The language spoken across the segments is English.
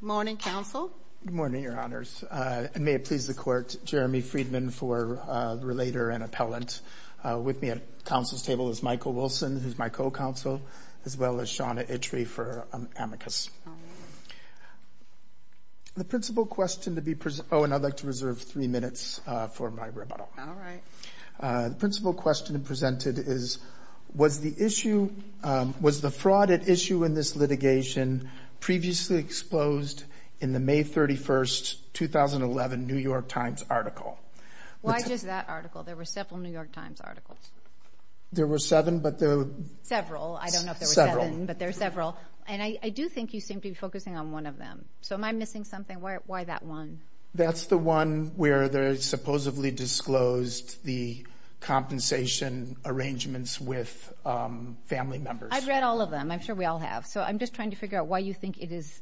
Good morning, Counsel. Good morning, Your Honors. And may it please the Court, Jeremy Friedman for Relator and Appellant. With me at Counsel's Table is Michael Wilson, who's my co-counsel, as well as Shawna Itchley for Amicus. The principal question to be presented, oh, and I'd like to reserve three minutes for my rebuttal. All right. The principal question presented is, was the issue, was the fraud at issue in this litigation previously exposed in the May 31, 2011 New York Times article? Why just that article? There were several New York Times articles. There were seven, but there were... Several. I don't know if there were seven, but there were several. I do think you seem to be focusing on one of them. So, am I missing something? Why that one? That's the one where they supposedly disclosed the compensation arrangements with family members. I've read all of them. I'm sure we all have. So, I'm just trying to figure out why you think it is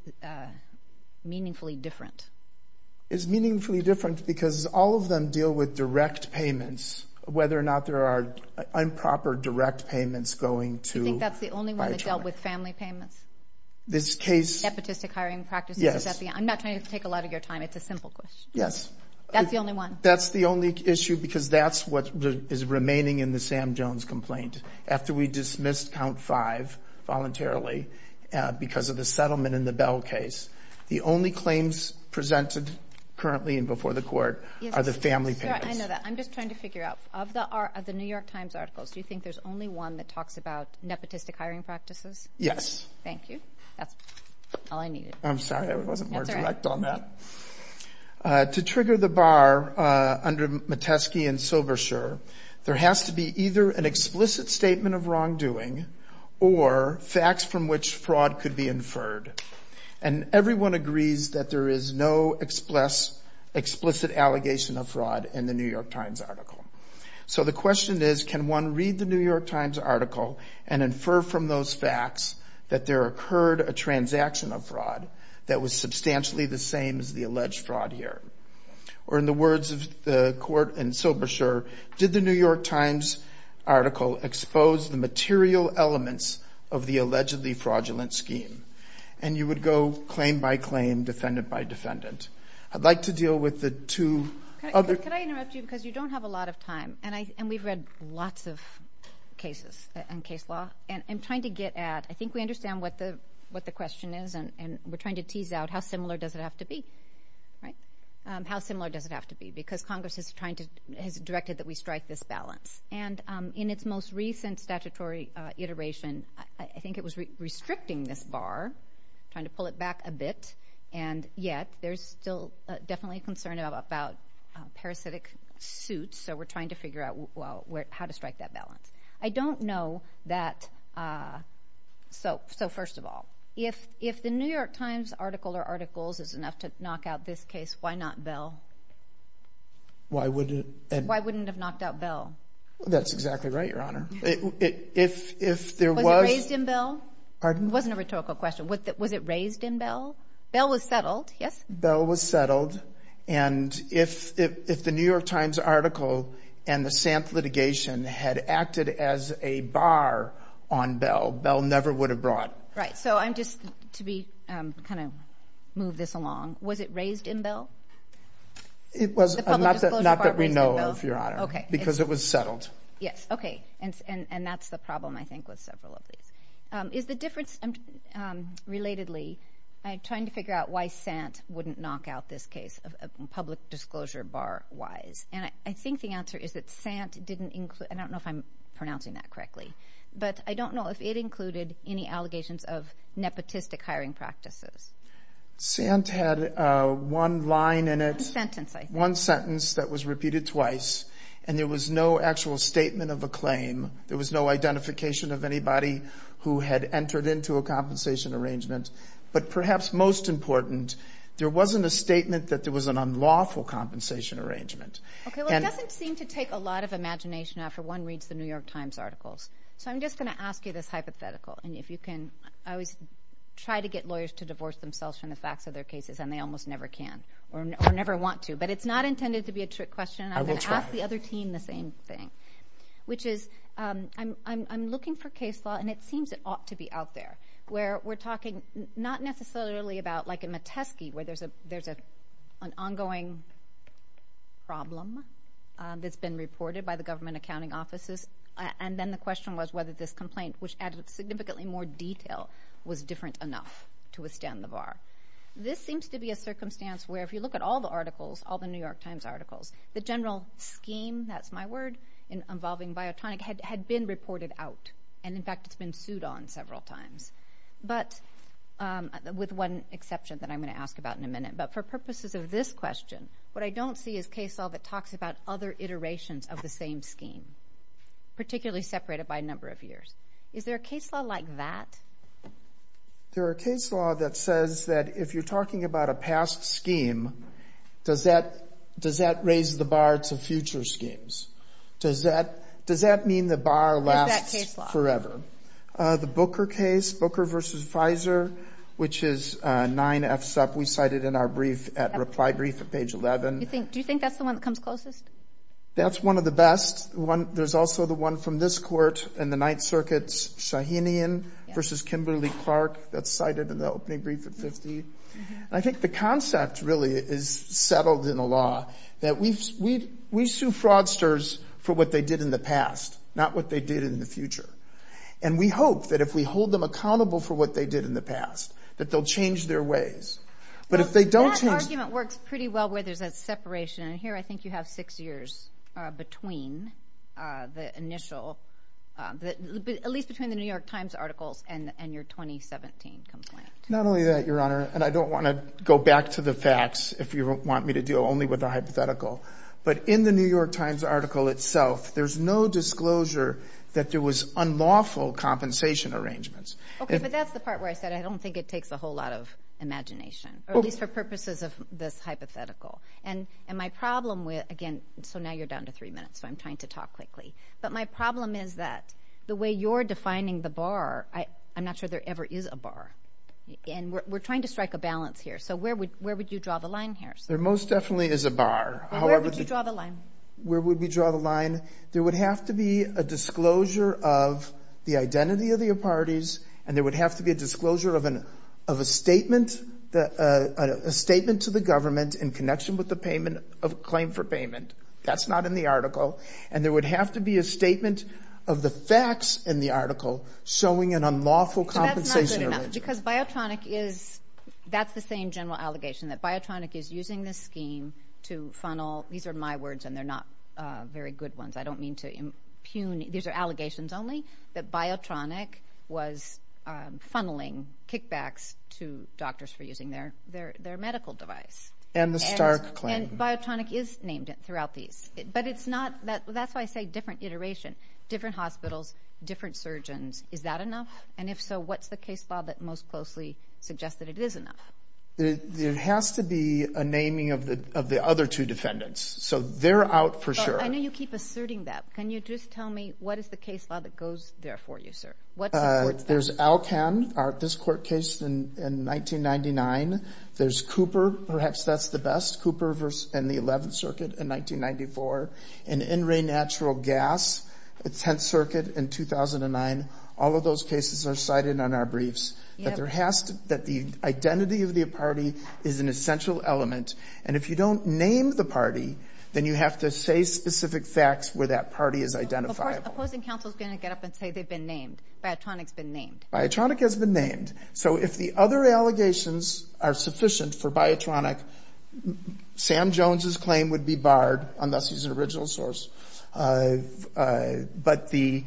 meaningfully different. It's meaningfully different because all of them deal with direct payments, whether or not there are improper direct payments going to Biotronik. That's the only one that dealt with family payments. This case... Nepotistic hiring practices. Yes. I'm not trying to take a lot of your time. It's a simple question. Yes. That's the only one. That's the only issue because that's what is remaining in the Sam Jones complaint. After we dismissed count five voluntarily because of the settlement in the Bell case, the only claims presented currently and before the court are the family payments. I know that. I'm just trying to figure out, of the New York Times articles, do you think there's only one that talks about nepotistic hiring practices? Thank you. That's all I needed. I'm sorry. I wasn't more direct on that. To trigger the bar under Metesky and Silversher, there has to be either an explicit statement of wrongdoing or facts from which fraud could be inferred. Everyone agrees that there is no explicit allegation of fraud in the New York Times article and infer from those facts that there occurred a transaction of fraud that was substantially the same as the alleged fraud here. Or in the words of the court and Silversher, did the New York Times article expose the material elements of the allegedly fraudulent scheme? And you would go claim by claim, defendant by defendant. I'd like to deal with the two... Could I interrupt you? Because you don't have a lot of time. And we've read lots of cases in case law. And I'm trying to get at, I think we understand what the question is, and we're trying to tease out how similar does it have to be, right? How similar does it have to be? Because Congress has directed that we strike this balance. And in its most recent statutory iteration, I think it was restricting this bar, trying to pull it back a bit. And yet, there's still definitely concern about parasitic suits. So we're trying to figure out how to strike that balance. I don't know that... So first of all, if the New York Times article or articles is enough to knock out this case, why not Bell? Why wouldn't it... Why wouldn't it have knocked out Bell? That's exactly right, Your Honor. If there was... Was it raised in Bell? Pardon? It wasn't a rhetorical question. Was it raised in Bell? Bell was settled, yes? Bell was settled. And if the New York Times article and the Sampth litigation had acted as a bar on Bell, Bell never would have brought... Right. So I'm just... To kind of move this along, was it raised in Bell? It was... Not that we know of, Your Honor, because it was settled. Yes. Okay. And that's the problem, I think, with several of these. Is the difference... Relatedly, I'm trying to figure out why Sant wouldn't knock out this case of public disclosure bar-wise. And I think the answer is that Sant didn't include... I don't know if I'm pronouncing that correctly, but I don't know if it included any allegations of nepotistic hiring practices. Sant had one line in it... One sentence, I think. There was no identification of anybody who had entered into a compensation arrangement. But perhaps most important, there wasn't a statement that there was an unlawful compensation arrangement. Okay. Well, it doesn't seem to take a lot of imagination after one reads the New York Times articles. So I'm just going to ask you this hypothetical, and if you can... I always try to get lawyers to divorce themselves from the facts of their cases, and they almost never can, or never want to. But it's not intended to be a trick question, and I'm going to ask the other team the same thing. Which is, I'm looking for case law, and it seems it ought to be out there, where we're talking not necessarily about... Like in Metesky, where there's an ongoing problem that's been reported by the government accounting offices, and then the question was whether this complaint, which added significantly more detail, was different enough to withstand the bar. This seems to be a circumstance where, if you look at all the articles, all the New York Times articles, the general scheme, that's my word, involving Biotonic, had been reported out. And in fact, it's been sued on several times. But with one exception that I'm going to ask about in a minute. But for purposes of this question, what I don't see is case law that talks about other iterations of the same scheme, particularly separated by number of years. Is there a case law like that? There are case law that says that if you're talking about a past scheme, does that raise the bar to future schemes? Does that mean the bar lasts forever? The Booker case, Booker versus Pfizer, which is 9F sub, we cited in our reply brief at page 11. Do you think that's the one that comes closest? That's one of the best. There's also the one from this court in the Ninth Circuit, Shahinian versus Kimberly-Clark, that's cited in the opening brief at 50. I think the concept really is settled in the law that we sue fraudsters for what they did in the past, not what they did in the future. And we hope that if we hold them accountable for what they did in the past, that they'll change their ways. But if they don't change... That argument works pretty well where there's a separation. And here I think you have six years between the initial, at least between the New York Times articles and your 2017 complaint. Not only that, Your Honor, and I don't want to go back to the facts if you want me to deal only with the hypothetical, but in the New York Times article itself, there's no disclosure that there was unlawful compensation arrangements. Okay, but that's the part where I said I don't think it takes a whole lot of imagination, or at least for purposes of this hypothetical. And my problem with... Again, so now you're down to three minutes, so I'm trying to talk quickly. But my problem is that the way you're defining the bar, I'm not sure there ever is a bar. And we're trying to strike a balance here, so where would you draw the line here? There most definitely is a bar. Where would you draw the line? Where would we draw the line? There would have to be a disclosure of the identity of the parties, and there would have to be a disclosure of a statement to the government in connection with the claim for payment. That's not in the article. And there would have to be a statement of the facts in the article showing an unlawful compensation arrangement. So that's not good enough, because Biotronic is... That's the same general allegation, that Biotronic is using this scheme to funnel... These are my words, and they're not very good ones. I don't mean to impugn... These are allegations only, that Biotronic was funneling kickbacks to doctors for using their medical device. And the Stark claim. And Biotronic is named throughout these. But that's why I say different iteration, different hospitals, different surgeons. Is that enough? And if so, what's the case law that most closely suggests that it is enough? There has to be a naming of the other two defendants. So they're out for sure. I know you keep asserting that. Can you just tell me what is the case law that goes there for you, sir? What supports that? There's Alcan, this court case in 1999. There's Cooper, perhaps that's the best. Cooper in the 11th Circuit in 1994. And In Re Natural Gas, the 10th Circuit in 2009. All of those cases are cited on our briefs. But there has to... That the identity of the party is an essential element. And if you don't name the party, then you have to say specific facts where that party is identifiable. Of course, opposing counsel is going to get up and say they've been named. Biotronic's been named. Biotronic has been named. So if the other allegations are sufficient for Biotronic, Sam Jones's claim would be barred, unless he's an original source. But the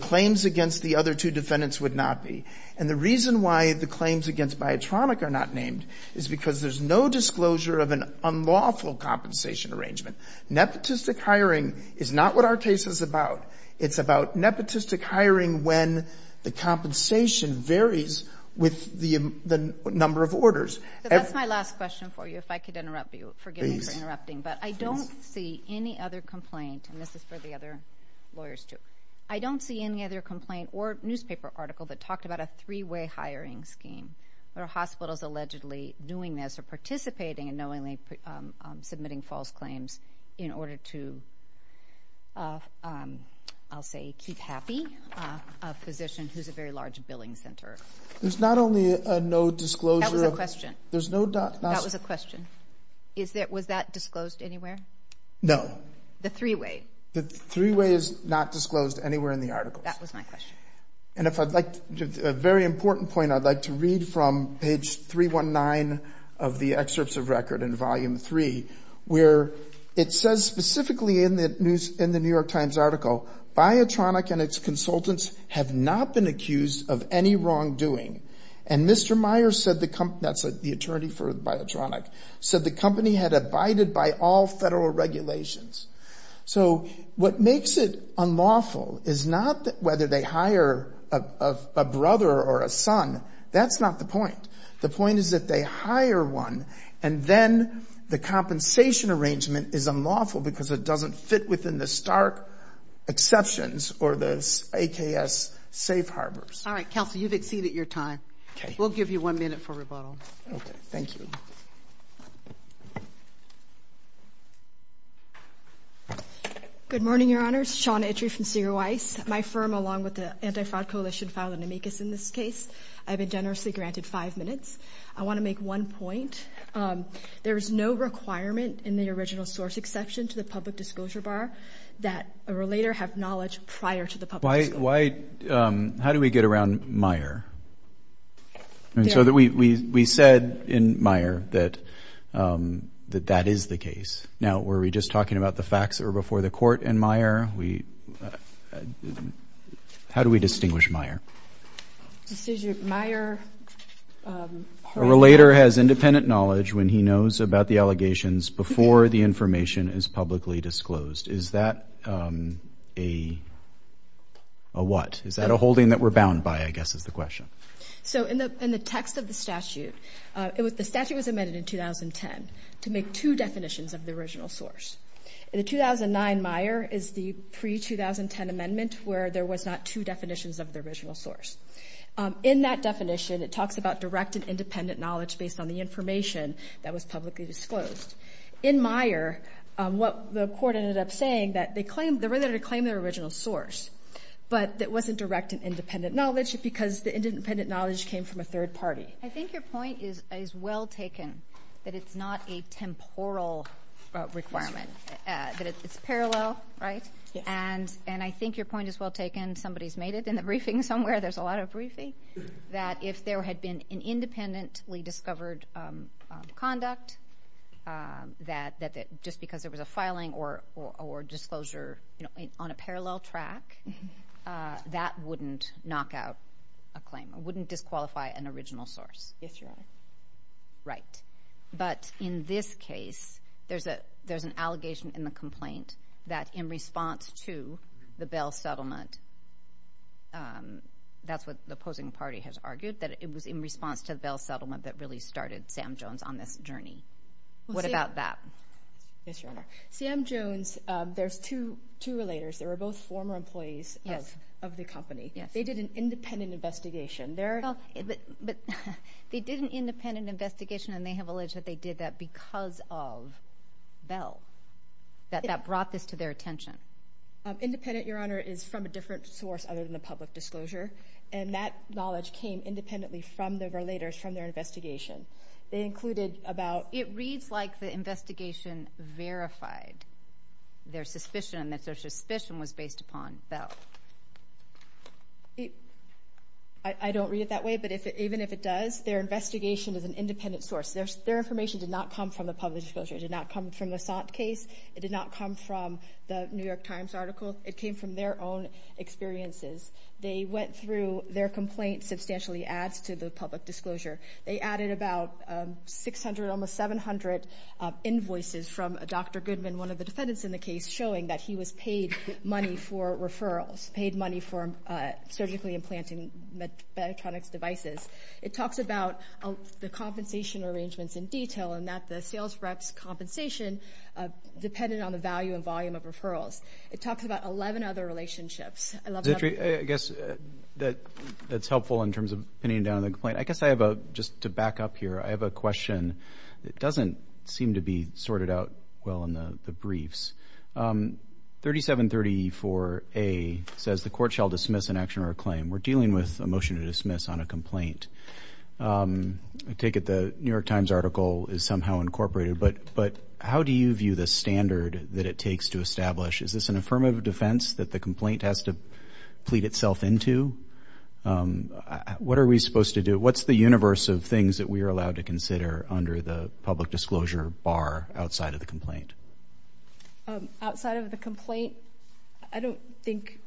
claims against the other two defendants would not be. And the reason why the claims against Biotronic are not named is because there's no disclosure of an unlawful compensation arrangement. Nepotistic hiring is not what our case is about. It's about nepotistic hiring when the compensation varies with the number of orders. So that's my last question for you, if I could interrupt you. Forgive me for interrupting. But I don't see any other complaint, and this is for the other lawyers too. I don't see any other complaint or newspaper article that talked about a three-way hiring scheme. There are hospitals allegedly doing this or participating in knowingly submitting false claims in order to, I'll say, keep happy a physician who's a very large billing center. There's not only a no disclosure of... That was a question. There's no... That was a question. Was that disclosed anywhere? No. The three-way. The three-way is not disclosed anywhere in the article. That was my question. And if I'd like to... A very important point I'd like to read from page 319 of the excerpts of record in volume 3, where it says specifically in the New York Times article, Biotronic and its consultants have not been accused of any wrongdoing. And Mr. Myers said the company... That's the attorney for Biotronic, said the company had abided by all federal regulations. So what makes it unlawful is not whether they hire a brother or a son. That's not the point. The point is that they hire one and then the compensation arrangement is unlawful because it doesn't fit within the stark exceptions or the AKS safe harbors. All right, Counselor, you've exceeded your time. We'll give you one minute for rebuttal. Okay. Thank you. Good morning, Your Honors. Shauna Itchery from Zero Ice. My firm, along with the Anti-Fraud Coalition, filed an amicus in this case. I've been generously granted five minutes. I want to make one point. There is no requirement in the original source exception to the public disclosure bar that a relator have knowledge prior to the public disclosure. Why... How do we get around Meyer? And so we said in Meyer that that is the case. Now, were we just talking about the facts that were before the court in Meyer? We... How do we distinguish Meyer? This is your... Meyer... A relator has independent knowledge when he knows about the allegations before the information is publicly disclosed. Is that a... a what? Is that a holding that we're bound by, I guess, is the question. So in the text of the statute, the statute was amended in 2010 to make two definitions of the original source. In the 2009 Meyer is the pre-2010 amendment where there was not two definitions of the original source. In that definition, it talks about direct and independent knowledge based on the information that was publicly disclosed. In Meyer, what the court ended up saying that they claimed... the relator claimed their original source, but it wasn't direct and independent knowledge because the independent knowledge came from a third party. I think your point is well taken, that it's not a temporal requirement, that it's parallel, right? And I think your point is well taken. Somebody's made it in the briefing somewhere. There's a lot of briefing. That if there had been an independently discovered conduct, that just because there was a filing or disclosure, you know, on a parallel track, that wouldn't knock out a claim, wouldn't disqualify an original source. Yes, Your Honor. Right. But in this case, there's an allegation in the complaint that in response to the Bell settlement... That's what the opposing party has argued, that it was in response to the Bell settlement that really started Sam Jones on this journey. What about that? Yes, Your Honor. Sam Jones, there's two relators. They were both former employees of the company. They did an independent investigation. But they did an independent investigation and they have alleged that they did that because of Bell, that that brought this to their attention. Independent, Your Honor, is from a different source other than the public disclosure. And that knowledge came independently from the relators from their investigation. They included about... It reads like the investigation verified their suspicion and that their suspicion was based upon Bell. I don't read it that way, but even if it does, their investigation is an independent source. Their information did not come from the public disclosure. It did not come from the Sont case. It did not come from the New York Times article. It came from their own experiences. They went through their complaint, substantially adds to the public disclosure. They added about 600, almost 700 invoices from Dr. Goodman, one of the defendants in the case, showing that he was paid money for referrals, paid money for surgically implanting electronics devices. It talks about the compensation arrangements in detail and that the sales rep's compensation depended on the value and volume of referrals. It talks about 11 other relationships. I love that. I guess that's helpful in terms of pinning down the complaint. I guess I have a, just to back up here, I have a question that doesn't seem to be sorted out well in the briefs. 3734A says, the court shall dismiss an action or a claim. We're dealing with a motion to dismiss on a complaint. I take it the New York Times article is somehow incorporated but how do you view the standard that it takes to establish? Is this an affirmative defense that the complaint has to plead itself into? What are we supposed to do? What's the universe of things that we are allowed to consider under the public disclosure bar outside of the complaint? Outside of the complaint? I don't think,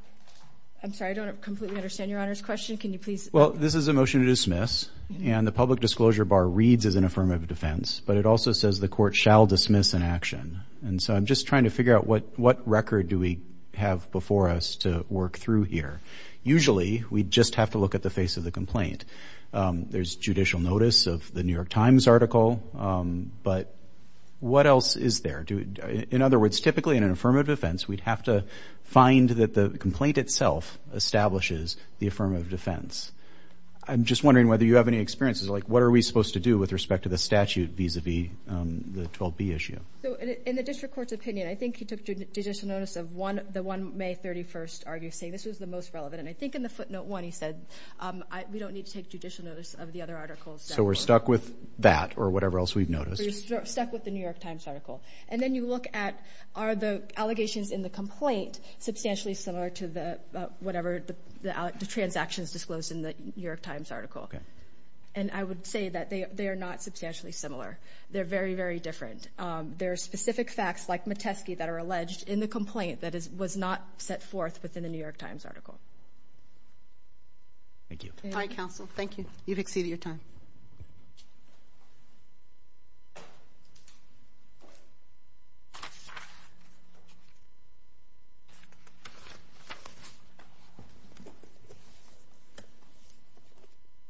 I'm sorry, I don't completely understand Your Honor's question. Can you please? Well, this is a motion to dismiss and the public disclosure bar reads as an affirmative defense but it also says the court shall dismiss an action. And so I'm just trying to figure out what record do we have before us to work through here? Usually we just have to look at the face of the complaint. There's judicial notice of the New York Times article but what else is there? In other words, typically in an affirmative defense we'd have to find that the complaint itself establishes the affirmative defense. I'm just wondering whether you have any experiences like what are we supposed to do with respect to the statute vis-a-vis the 12B issue? So in the district court's opinion, I think he took judicial notice of the one May 31st argument saying this was the most relevant. And I think in the footnote one he said, we don't need to take judicial notice of the other articles. So we're stuck with that or whatever else we've noticed? We're stuck with the New York Times article. And then you look at, are the allegations in the complaint substantially similar to whatever the transactions disclosed in the New York Times article? And I would say that they are not substantially similar. They're very, very different. There are specific facts like Metesky that are alleged in the complaint that was not set forth within the New York Times article. Thank you. All right, counsel, thank you. You've exceeded your time.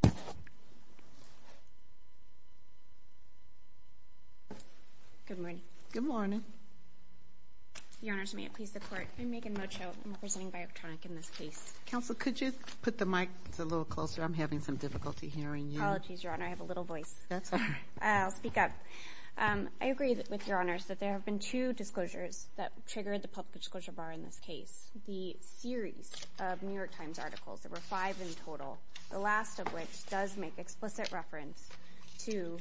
Thank you. Good morning. Good morning. Your honors, may it please the court. I'm Megan Mocho. I'm representing Biotronic in this case. Counsel, could you put the mic a little closer? I'm having some difficulty hearing you. Apologies, your honor. I have a little voice. That's all right. I'll speak up. I agree with your honors that there have been two disclosures that triggered the public disclosure bar in this case. The series of New York Times articles, there were five in total, the last of which does make explicit reference to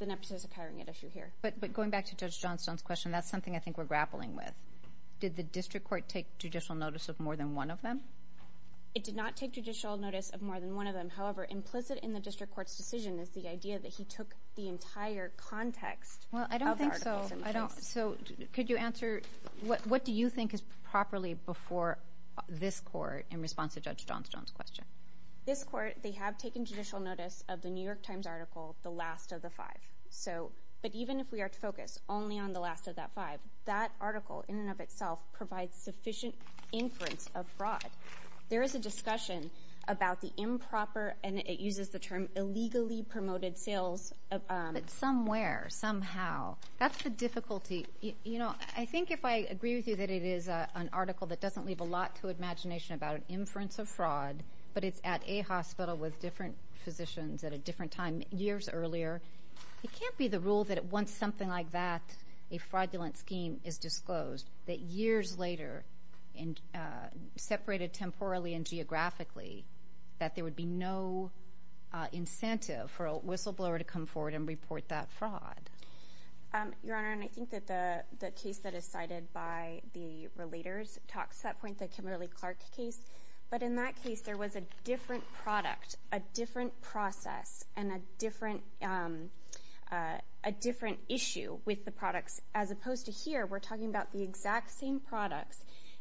the nepotism carrying an issue here. But going back to Judge Johnstone's question, that's something I think we're grappling with. Did the district court take judicial notice of more than one of them? It did not take judicial notice of more than one of them. However, implicit in the district court's decision is the idea that he took the entire context of the articles in the case. So could you answer, what do you think is properly before this court in response to Judge Johnstone's question? This court, they have taken judicial notice of the New York Times article, the last of the five. But even if we are to focus only on the last of that five, that article in and of itself provides sufficient inference abroad. There is a discussion about the improper, and it uses the term illegally promoted sales. But somewhere, somehow. That's the difficulty. I think if I agree with you that it is an article that doesn't leave a lot to imagination about an inference of fraud, but it's at a hospital with different physicians at a different time years earlier, it can't be the rule that once something like that, a fraudulent scheme is disclosed, that years later, separated temporally and geographically, that there would be no incentive for a whistleblower to come forward and report that fraud. Your Honor, and I think that the case that is cited by the relators talks to that point, the Kimberly-Clark case. But in that case, there was a different product, a different process, and a different, a different issue with the products, as opposed to here, we're talking about the exact same products,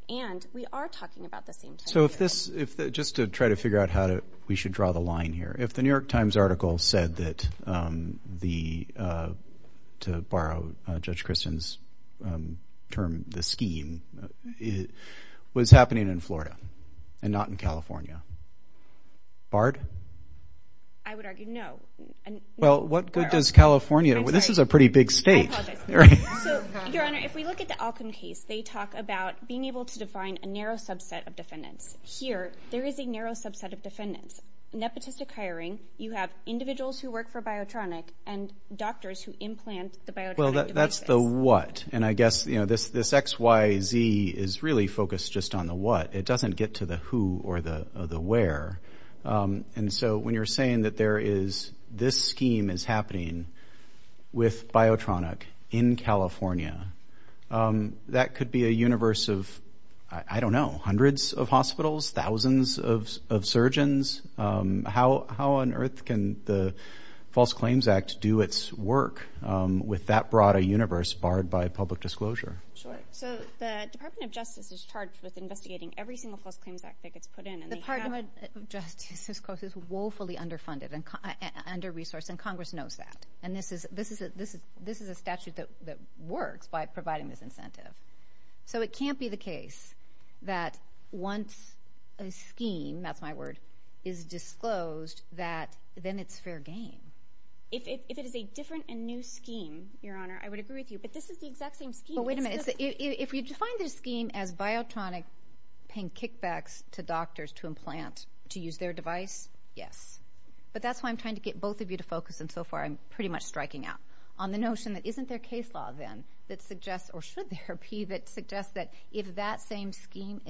and we are talking about the same time period. So if this, just to try to figure out how to, we should draw the line here. If the New York Times article said that the, to borrow Judge Christen's term, the scheme, was happening in Florida and not in California, barred? I would argue no. Well, what good does California, this is a pretty big state. I apologize. So, Your Honor, if we look at the Alcom case, they talk about being able to define a narrow subset of defendants. Here, there is a narrow subset of defendants. Nepotistic hiring, you have individuals who work for Biotronic, and doctors who implant the Biotronic devices. Well, that's the what. And I guess, you know, this XYZ is really focused just on the what. It doesn't get to the who or the where. And so when you're saying that there is, this scheme is happening with Biotronic in California, that could be a universe of, I don't know, hundreds of hospitals, thousands of surgeons. How on earth can the False Claims Act do its work with that broad a universe barred by public disclosure? Sure, so the Department of Justice is charged with investigating every single False Claims Act that gets put in. The Department of Justice is woefully underfunded and under-resourced, and Congress knows that. And this is a statute that works by providing this incentive. So it can't be the case that once a scheme, that's my word, is disclosed, that then it's fair game. If it is a different and new scheme, Your Honor, I would agree with you, but this is the exact same scheme. But wait a minute, if we define this scheme as Biotronic paying kickbacks to doctors to implant, to use their device, yes. But that's why I'm trying to get both of you to focus, and so far I'm pretty much striking out, on the notion that isn't there case law then that suggests, or should there be, that suggests that if that same scheme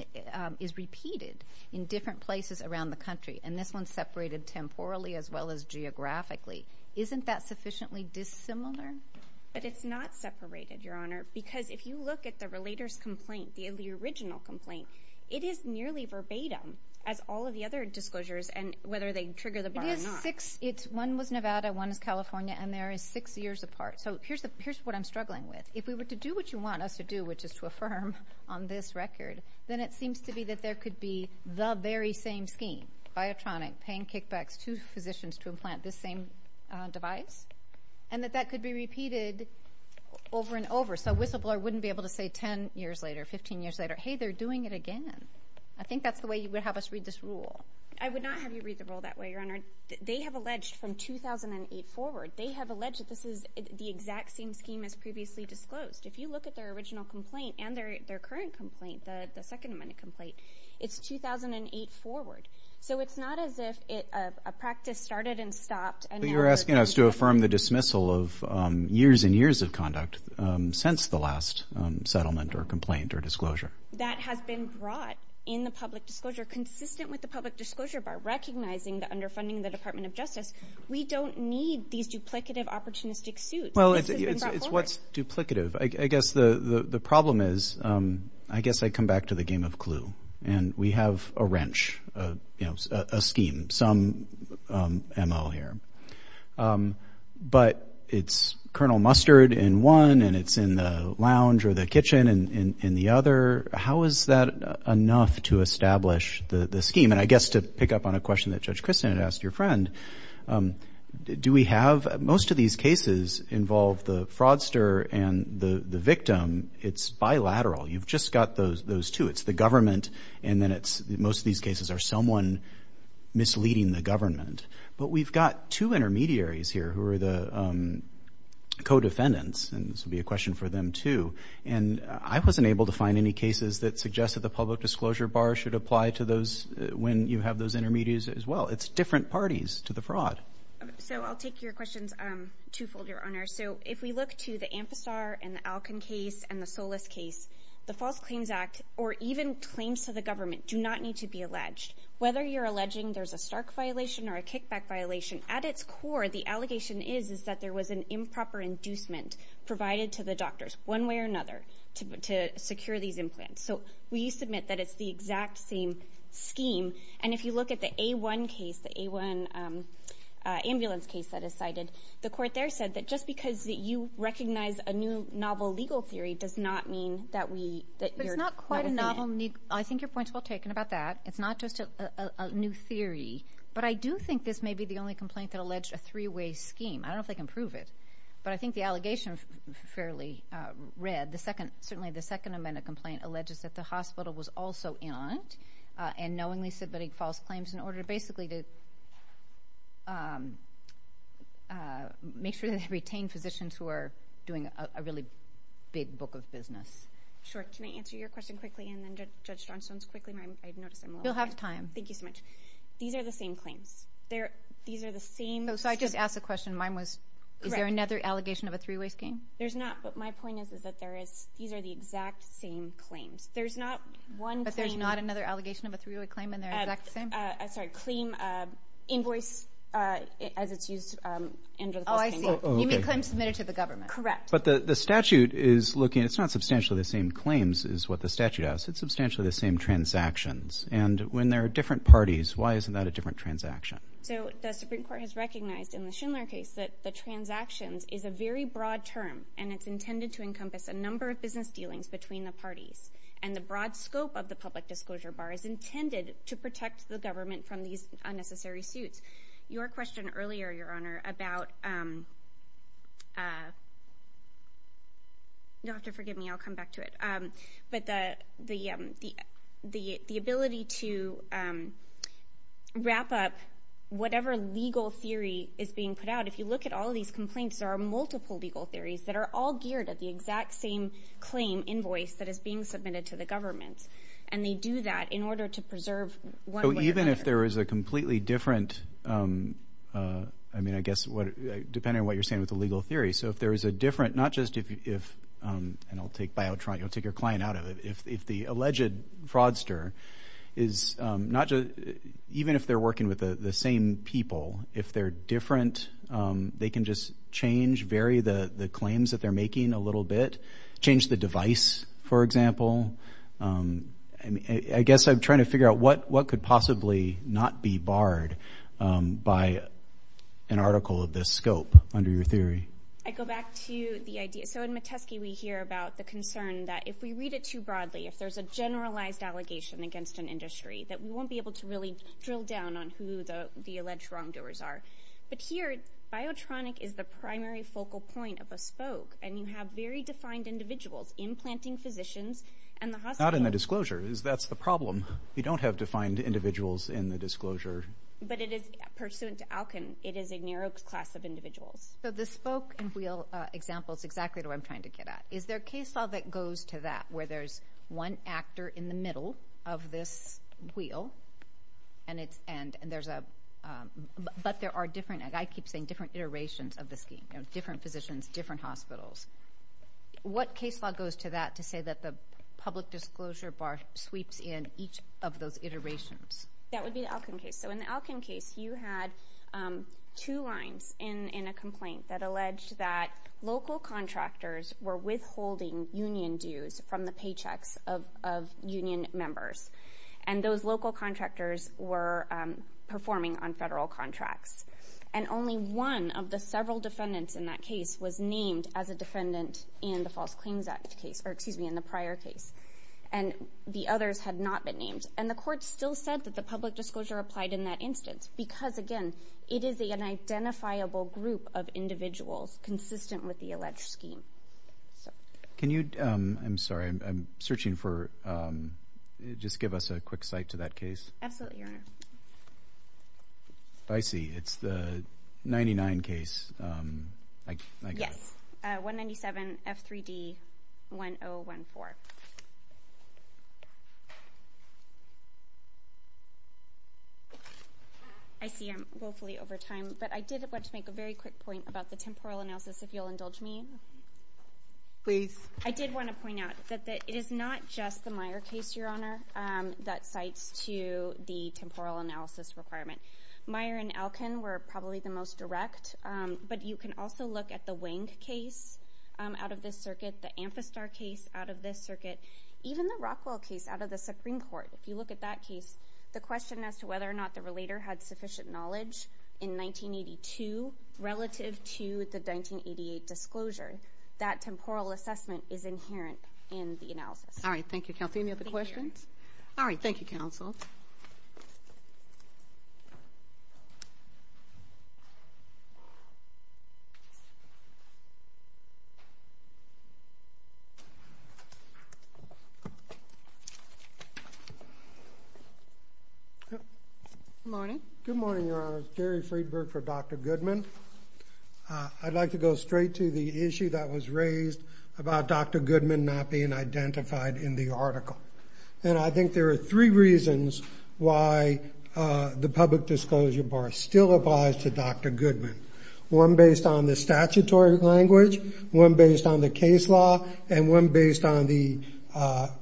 is repeated in different places around the country, and this one's separated temporally as well as geographically, isn't that sufficiently dissimilar? But it's not separated, Your Honor, because if you look at the relator's complaint, the original complaint, it is nearly verbatim, as all of the other disclosures, and whether they trigger the bar or not. It is six, one was Nevada, one is California, and there is six years apart. So here's what I'm struggling with. If we were to do what you want us to do, which is to affirm on this record, then it seems to be that there could be the very same scheme, Biotronic paying kickbacks to physicians to implant this same device, and that that could be repeated over and over. So Whistleblower wouldn't be able to say 10 years later, 15 years later, hey, they're doing it again. I think that's the way you would have us read this rule. I would not have you read the rule that way, Your Honor. They have alleged from 2008 forward, they have alleged that this is the exact same scheme as previously disclosed. If you look at their original complaint and their current complaint, the second amendment complaint, it's 2008 forward. So it's not as if a practice started and stopped, and now they're doing it again. But you're asking us to affirm the dismissal of years and years of conduct since the last settlement or complaint or disclosure. That has been brought in the public disclosure, consistent with the public disclosure by recognizing the underfunding of the Department of Justice. We don't need these duplicative opportunistic suits. Well, it's what's duplicative. I guess the problem is, I guess I come back to the game of Clue, and we have a wrench, a scheme, some ML here. But it's Colonel Mustard in one, and it's in the lounge or the kitchen in the other. How is that enough to establish the scheme? And I guess to pick up on a question that Judge Christin had asked your friend, do we have, most of these cases involve the fraudster and the victim, it's bilateral. You've just got those two. It's the government, and then it's, most of these cases are someone misleading the government. But we've got two intermediaries here who are the co-defendants, and this would be a question for them too. And I wasn't able to find any cases that suggested the public disclosure bar should apply to those when you have those intermediaries as well. It's different parties to the fraud. So I'll take your questions twofold, your Honor. So if we look to the Ampistar and the Alcan case and the Solis case, the False Claims Act, or even claims to the government, do not need to be alleged. Whether you're alleging there's a Stark violation or a kickback violation, at its core, the allegation is that there was an improper inducement provided to the doctors, one way or another, to secure these implants. So we submit that it's the exact same scheme. And if you look at the A1 case, the A1 ambulance case that is cited, the court there said that just because you recognize a new novel legal theory does not mean that we, that you're not a defendant. But it's not quite a novel, I think your point's well taken about that. It's not just a new theory. But I do think this may be the only complaint that alleged a three-way scheme. I don't know if they can prove it. But I think the allegation fairly read. The second, certainly the Second Amendment complaint alleges that the hospital was also in on it, and knowingly submitting false claims in order to basically to, make sure that they retain physicians who are doing a really big book of business. Sure, can I answer your question quickly, and then Judge Johnstone's quickly, I've noticed I'm a little late. You'll have time. Thank you so much. These are the same claims. These are the same. Oh, so I just asked a question, mine was, is there another allegation of a three-way scheme? There's not, but my point is that there is, these are the exact same claims. There's not one claim. But there's not another allegation of a three-way claim and they're the exact same? Sorry, claim, invoice, as it's used under the First Amendment. Oh, I see. You mean claims submitted to the government. Correct. But the statute is looking, it's not substantially the same claims is what the statute asks. It's substantially the same transactions. And when there are different parties, why isn't that a different transaction? So the Supreme Court has recognized in the Schindler case that the transactions is a very broad term and it's intended to encompass a number of business dealings between the parties. And the broad scope of the public disclosure bar is intended to protect the government from these unnecessary suits. Your question earlier, Your Honor, about, you'll have to forgive me, I'll come back to it. But the ability to wrap up whatever legal theory is being put out, if you look at all of these complaints, there are multiple legal theories that are all geared at the exact same claim, invoice, that is being submitted to the government. And they do that in order to preserve one way or another. Even if there is a completely different, I mean, I guess, depending on what you're saying with the legal theory. So if there is a different, not just if, and I'll take Biotron, you'll take your client out of it. If the alleged fraudster is not just, even if they're working with the same people, if they're different, they can just change, vary the claims that they're making a little bit, change the device, for example, and I guess I'm trying to figure out what could possibly not be barred by an article of this scope under your theory. I go back to the idea. So in Metesky, we hear about the concern that if we read it too broadly, if there's a generalized allegation against an industry, that we won't be able to really drill down on who the alleged wrongdoers are. But here, Biotronic is the primary focal point of a spoke, and you have very defined individuals, implanting physicians and the hospital. Not in the disclosure, that's the problem. You don't have defined individuals in the disclosure. But it is, pursuant to Alkin, it is a narrow class of individuals. So the spoke and wheel example is exactly what I'm trying to get at. Is there a case law that goes to that, where there's one actor in the middle of this wheel, but there are different, and I keep saying different iterations of the scheme, different physicians, different hospitals. What case law goes to that to say that the public disclosure bar sweeps in each of those iterations? That would be the Alkin case. So in the Alkin case, you had two lines in a complaint that alleged that local contractors were withholding union dues from the paychecks of union members. And those local contractors were performing on federal contracts. And only one of the several defendants in that case was named as a defendant in the False Claims Act case, or excuse me, in the prior case. And the others had not been named. And the court still said that the public disclosure applied in that instance, because again, it is an identifiable group of individuals consistent with the alleged scheme. Can you, I'm sorry, I'm searching for, just give us a quick site to that case. Absolutely, Your Honor. I see, it's the 99 case. Yes. 197F3D1014. I see I'm woefully over time, but I did want to make a very quick point about the temporal analysis, if you'll indulge me. Please. I did wanna point out that it is not just the Meyer case, Your Honor, that cites to the temporal analysis requirement. Meyer and Alkin were probably the most direct, but you can also look at the Wank case out of this circuit, the Amphistar case out of this circuit, even the Rockwell case out of the Supreme Court. If you look at that case, the question as to whether or not the relator had sufficient knowledge in 1982 relative to the 1988 disclosure, that temporal assessment is inherent in the analysis. All right, thank you, Kelsey. Any other questions? All right, thank you, counsel. Good morning. Good morning, Your Honor. Gary Friedberg for Dr. Goodman. I'd like to go straight to the issue that was raised about Dr. Goodman not being identified in the article. And I think there are three reasons why the public disclosure bar still applies to Dr. Goodman, one based on the statutory language, one based on the case law, and one based on the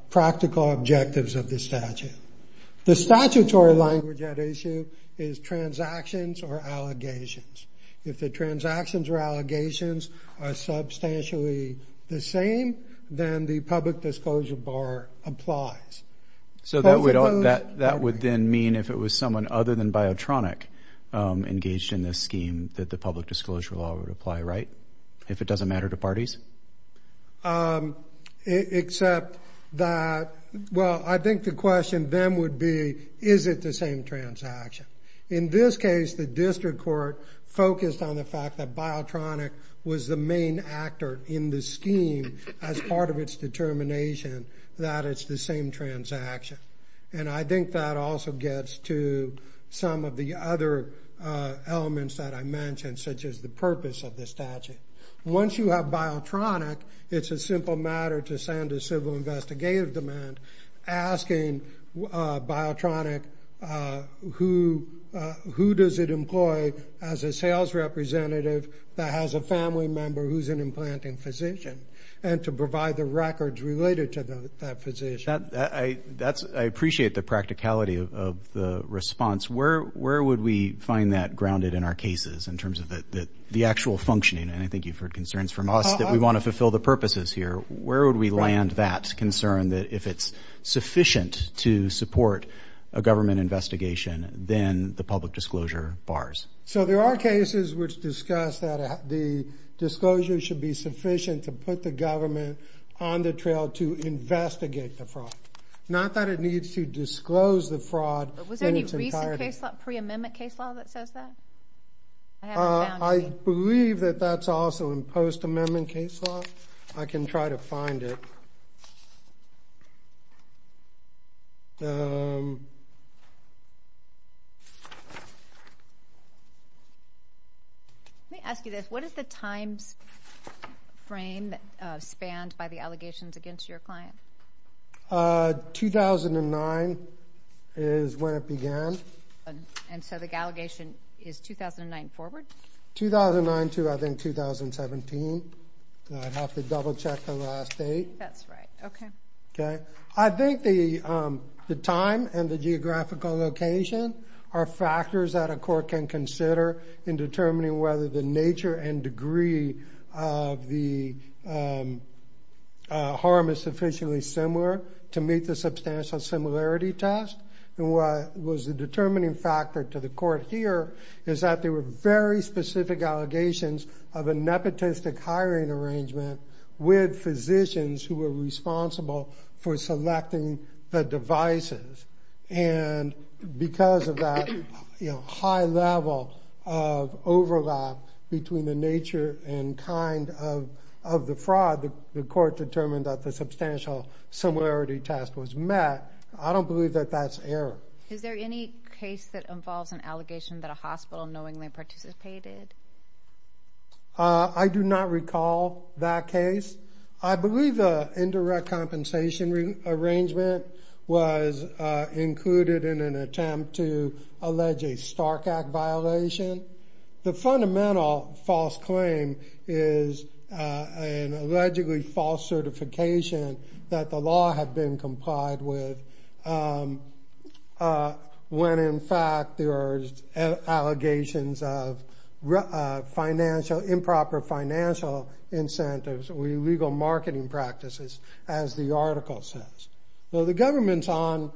practical objectives of the statute. The statutory language at issue is transactions or allegations. If the transactions or allegations are substantially the same, then the public disclosure bar applies. So that would then mean if it was someone other than Biotronic engaged in this scheme that the public disclosure law would apply, right? If it doesn't matter to parties? Except that, well, I think the question then would be, is it the same transaction? In this case, the district court focused on the fact that Biotronic was the main actor in the scheme as part of its determination that it's the same transaction. And I think that also gets to some of the other elements that I mentioned, such as the purpose of the statute. Once you have Biotronic, it's a simple matter to send a civil investigative demand asking Biotronic who does it employ as a sales representative that has a family member who's an implanting physician and to provide the records related to that physician. I appreciate the practicality of the response. Where would we find that grounded in our cases in terms of the actual functioning? And I think you've heard concerns from us that we wanna fulfill the purposes here. Where would we land that concern that if it's sufficient to support a government investigation, then the public disclosure bars? So there are cases which discuss that the disclosure should be sufficient to put the government on the trail to investigate the fraud. Not that it needs to disclose the fraud in its entirety. Was there any recent case law, pre-amendment case law that says that? I believe that that's also in post-amendment case law. I can try to find it. Thank you. Let me ask you this. What is the timeframe spanned by the allegations against your client? 2009 is when it began. And so the allegation is 2009 forward? 2009 to I think 2017. I'd have to double check the last date. I think that's right, okay. I think the time and the geographical location are factors that a court can consider in determining whether the nature and degree of the harm is sufficiently similar to meet the substantial similarity test. And what was the determining factor to the court here is that there were very specific allegations of a nepotistic hiring arrangement with physicians who were responsible for selecting the devices. And because of that high level of overlap between the nature and kind of the fraud, the court determined that the substantial similarity test was met. I don't believe that that's error. Is there any case that involves an allegation that a hospital knowingly participated? I do not recall that case. I believe the indirect compensation arrangement was included in an attempt to allege a Stark Act violation. The fundamental false claim is an allegedly false certification that the law had been complied with when in fact there are allegations of fraud financial, improper financial incentives or illegal marketing practices as the article says. Well, the government's on,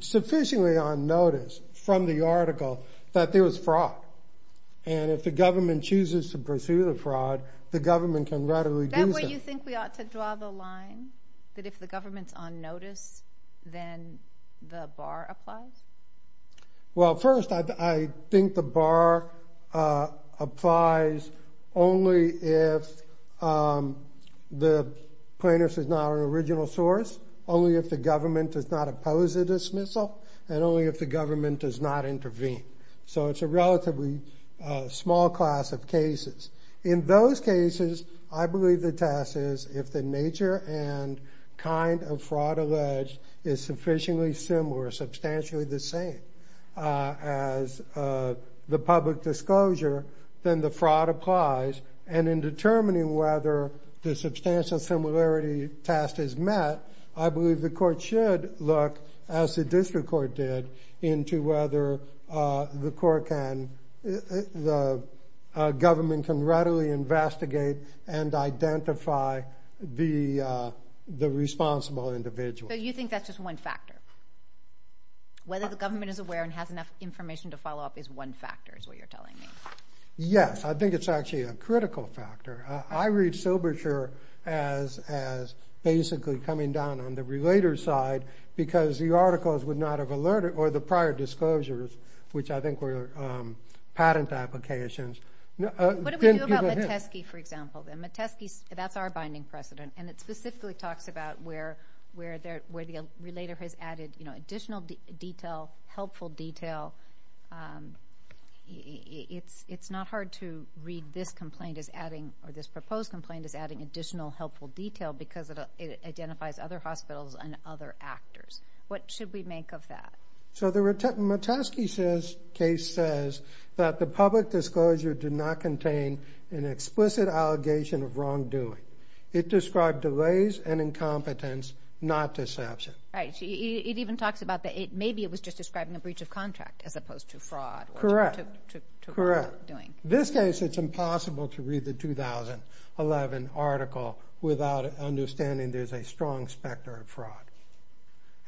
sufficiently on notice from the article that there was fraud. And if the government chooses to pursue the fraud, the government can readily do so. That way you think we ought to draw the line that if the government's on notice, then the bar applies? Well, first I think the bar applies only if the plaintiff is not an original source, only if the government does not oppose the dismissal and only if the government does not intervene. So it's a relatively small class of cases. In those cases, I believe the test is if the nature and kind of fraud alleged is sufficiently similar, substantially the same as the public disclosure, then the fraud applies. And in determining whether the substantial similarity test is met, I believe the court should look as the district court did into whether the court can, the government can readily investigate and identify the responsible individual. So you think that's just one factor? Whether the government is aware and has enough information to follow up is one factor is what you're telling me? Yes, I think it's actually a critical factor. I read Silberscher as basically coming down on the relator side because the articles would not have alerted or the prior disclosures, which I think were patent applications. What do we do about Metesky, for example, then Metesky, that's our binding precedent. And it specifically talks about where the relator has added additional detail, helpful detail. It's not hard to read this complaint as adding or this proposed complaint as adding additional helpful detail because it identifies other hospitals and other actors. What should we make of that? So the Metesky case says that the public disclosure did not contain an explicit allegation of wrongdoing. It described delays and incompetence, not deception. Right, it even talks about maybe it was just describing a breach of contract as opposed to fraud. Correct, correct. This case, it's impossible to read the 2011 article without understanding there's a strong specter of fraud.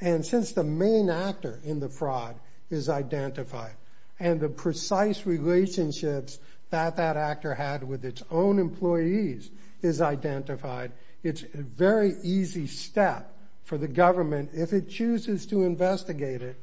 And since the main actor in the fraud is identified and the precise relationships that that actor had with its own employees is identified, it's a very easy step for the government, if it chooses to investigate it,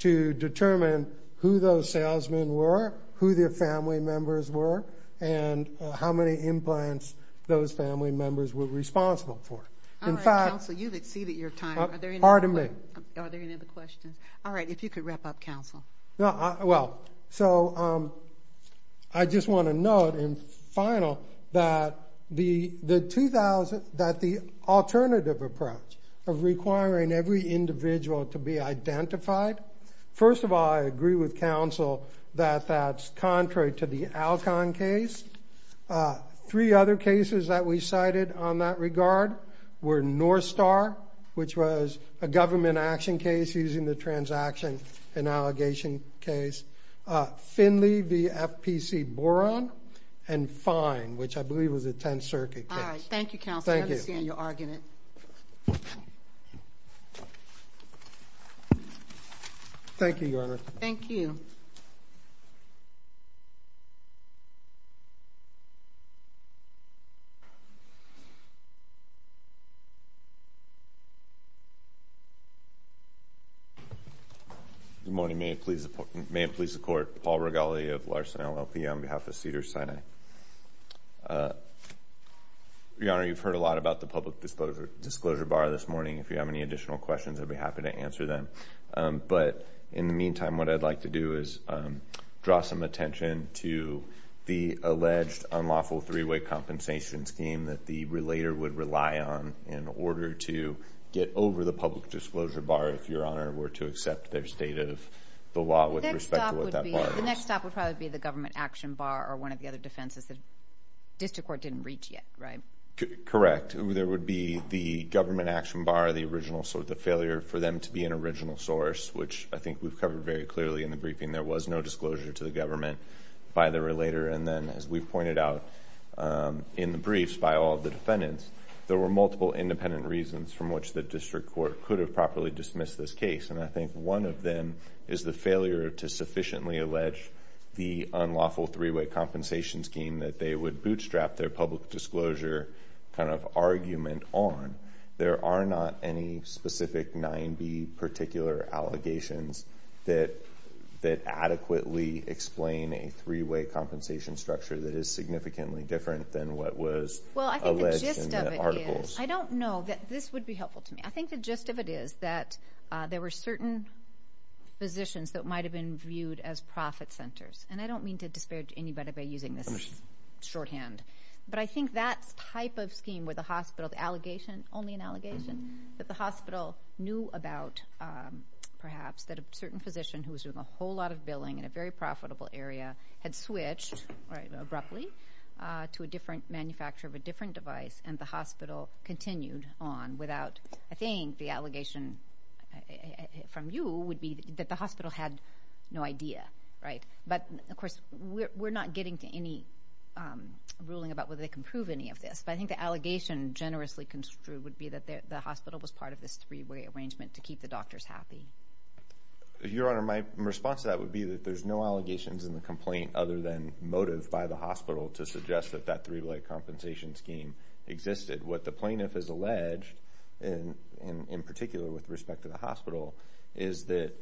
to determine who those salesmen were, who their family members were, and how many implants those family members were responsible for. In fact- All right, counsel, you've exceeded your time. Pardon me. Are there any other questions? All right, if you could wrap up, counsel. No, well, so I just want to note in final that the alternative approach of requiring every individual to be identified, first of all, I agree with counsel that that's contrary to the Alcon case. Three other cases that we cited on that regard were North Star, which was a government action case using the transaction and allegation case, Finley v. FPC Boron, and Fine, which I believe was a 10th Circuit case. All right, thank you, counsel. Thank you. I understand you're arguing it. Thank you, Your Honor. Thank you. Good morning. May it please the Court. Paul Regali of Larson LLP on behalf of Cedars-Sinai. Your Honor, you've heard a lot about the public disclosure bar this morning. If you have any additional questions, I'd be happy to answer them. But in the meantime, what I'd like to do is draw some attention to the alleged unlawful three-way compensation scheme that the relator would rely on in order to get over the public disclosure bar, if Your Honor were to accept their state of the law with respect to what that bar is. The next stop would probably be the government action bar or one of the other defenses that District Court didn't reach yet, right? Correct. There would be the government action bar, the failure for them to be an original source, which I think we've covered very clearly in the briefing. There was no disclosure to the government by the relator. And then, as we've pointed out in the briefs by all of the defendants, there were multiple independent reasons from which the District Court could have properly dismissed this case. And I think one of them is the failure to sufficiently allege the unlawful three-way compensation scheme that they would bootstrap their public disclosure kind of argument on. There are not any specific nine-B particular allegations that adequately explain a three-way compensation structure that is significantly different than what was alleged in the articles. I don't know. This would be helpful to me. I think the gist of it is that there were certain physicians that might have been viewed as profit centers. And I don't mean to disparage anybody by using this shorthand. But I think that type of scheme where the hospital, the allegation, only an allegation, that the hospital knew about, perhaps, that a certain physician who was doing a whole lot of billing in a very profitable area had switched, abruptly, to a different manufacturer of a different device, and the hospital continued on without, I think, the allegation from you would be that the hospital had no idea, right? But, of course, we're not getting to any ruling about whether they can prove any of this. But I think the allegation generously construed would be that the hospital was part of this three-way arrangement to keep the doctors happy. Your Honor, my response to that would be that there's no allegations in the complaint other than motive by the hospital to suggest that that three-way compensation scheme existed. What the plaintiff has alleged, and in particular with respect to the hospital, is that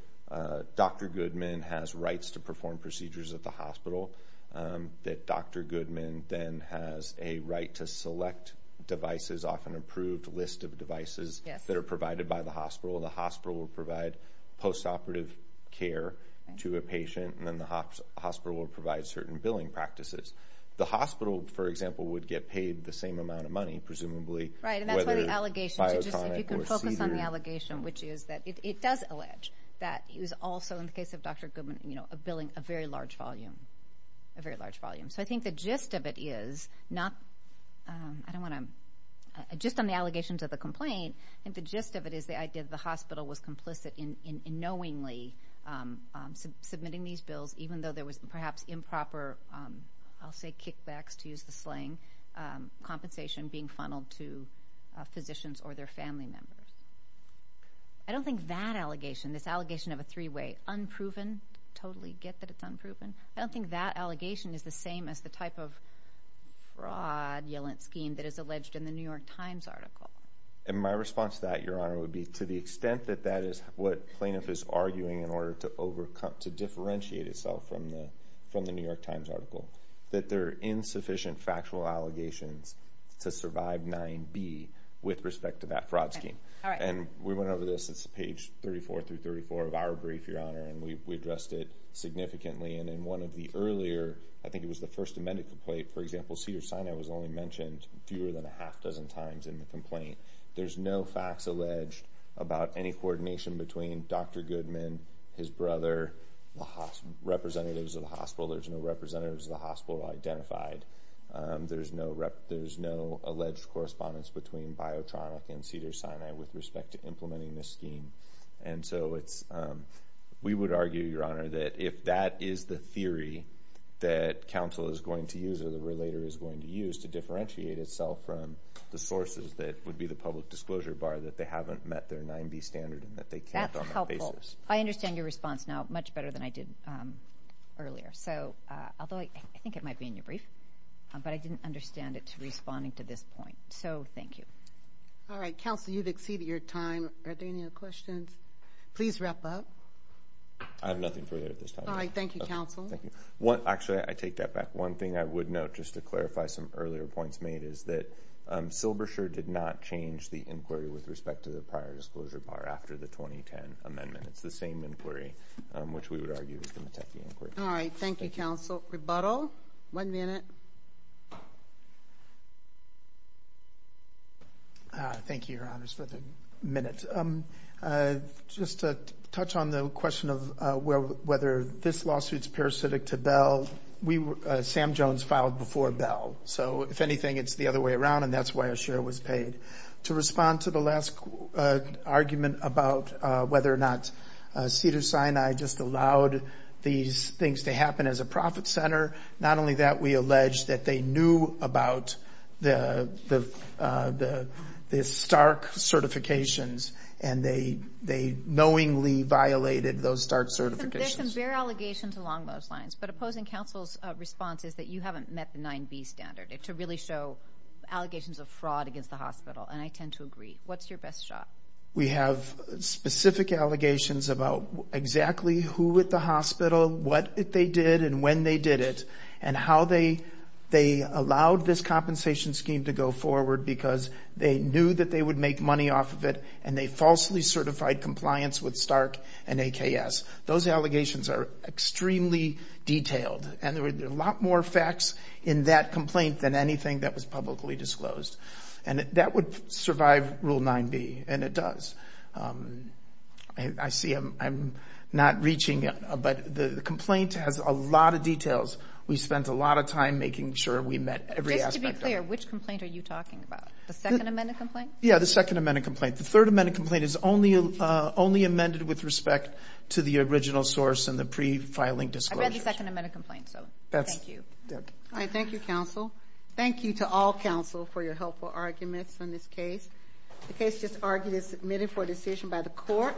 Dr. Goodman has rights to perform procedures at the hospital, that Dr. Goodman then has a right to select devices off an approved list of devices that are provided by the hospital. The hospital will provide post-operative care to a patient, and then the hospital will provide certain billing practices. The hospital, for example, would get paid the same amount of money, whether biotonic or cedar. If you could focus on the allegation, which is that it does allege that he was also, in the case of Dr. Goodman, billing a very large volume, a very large volume. So I think the gist of it is, not, I don't wanna, gist on the allegations of the complaint, I think the gist of it is the idea that the hospital was complicit in knowingly submitting these bills, even though there was perhaps improper, I'll say kickbacks, to use the slang, compensation being funneled to physicians or their family members. I don't think that allegation, this allegation of a three-way, unproven, totally get that it's unproven, I don't think that allegation is the same as the type of fraudulent scheme that is alleged in the New York Times article. And my response to that, Your Honor, would be to the extent that that is what plaintiff is arguing in order to overcome, to differentiate itself from the New York Times article, that there are insufficient factual allegations to survive 9B with respect to that fraud scheme. And we went over this, it's page 34 through 34 of our brief, Your Honor, and we addressed it significantly. And in one of the earlier, I think it was the first amended complaint, for example, Cedars-Sinai was only mentioned fewer than a half dozen times in the complaint. There's no facts alleged about any coordination between Dr. Goodman, his brother, the representatives of the hospital, there's no representatives of the hospital identified. There's no alleged correspondence between Biotronic and Cedars-Sinai with respect to implementing this scheme. And so we would argue, Your Honor, that if that is the theory that counsel is going to use or the relator is going to use to differentiate itself from the sources that would be the public disclosure bar that they haven't met their 9B standard and that they can't on that basis. I understand your response now much better than I did earlier. Although I think it might be in your brief, but I didn't understand it to responding to this point. So thank you. All right, counsel, you've exceeded your time. Are there any other questions? Please wrap up. I have nothing further at this time. All right, thank you, counsel. Actually, I take that back. One thing I would note, just to clarify some earlier points made, is that Silbersher did not change the inquiry with respect to the prior disclosure bar after the 2010 amendment. It's the same inquiry, which we would argue is the Metechi inquiry. All right, thank you, counsel. Rebuttal, one minute. Thank you, your honors, for the minute. Just to touch on the question of whether this lawsuit's parasitic to Bell, Sam Jones filed before Bell. So if anything, it's the other way around and that's why a share was paid. To respond to the last argument about whether or not Cedars-Sinai just allowed these things to happen as a profit center, not only that, we allege that they knew about the Stark certifications and they knowingly violated those Stark certifications. There's some bare allegations along those lines, but opposing counsel's response is that you haven't met the 9B standard to really show allegations of fraud against the hospital and I tend to agree. What's your best shot? We have specific allegations about exactly who at the hospital, what they did and when they did it and how they allowed this compensation scheme to go forward because they knew that they would make money off of it and they falsely certified compliance with Stark and AKS. Those allegations are extremely detailed and there were a lot more facts in that complaint than anything that was publicly disclosed and that would survive Rule 9B and it does. I see I'm not reaching it, but the complaint has a lot of details. We spent a lot of time making sure we met every aspect of it. Just to be clear, which complaint are you talking about? The second amended complaint? Yeah, the second amended complaint. The third amended complaint is only amended with respect to the original source and the pre-filing disclosures. I read the second amended complaint, so thank you. All right, thank you, counsel. Thank you to all counsel for your helpful arguments on this case. The case just argued is submitted for decision by the court.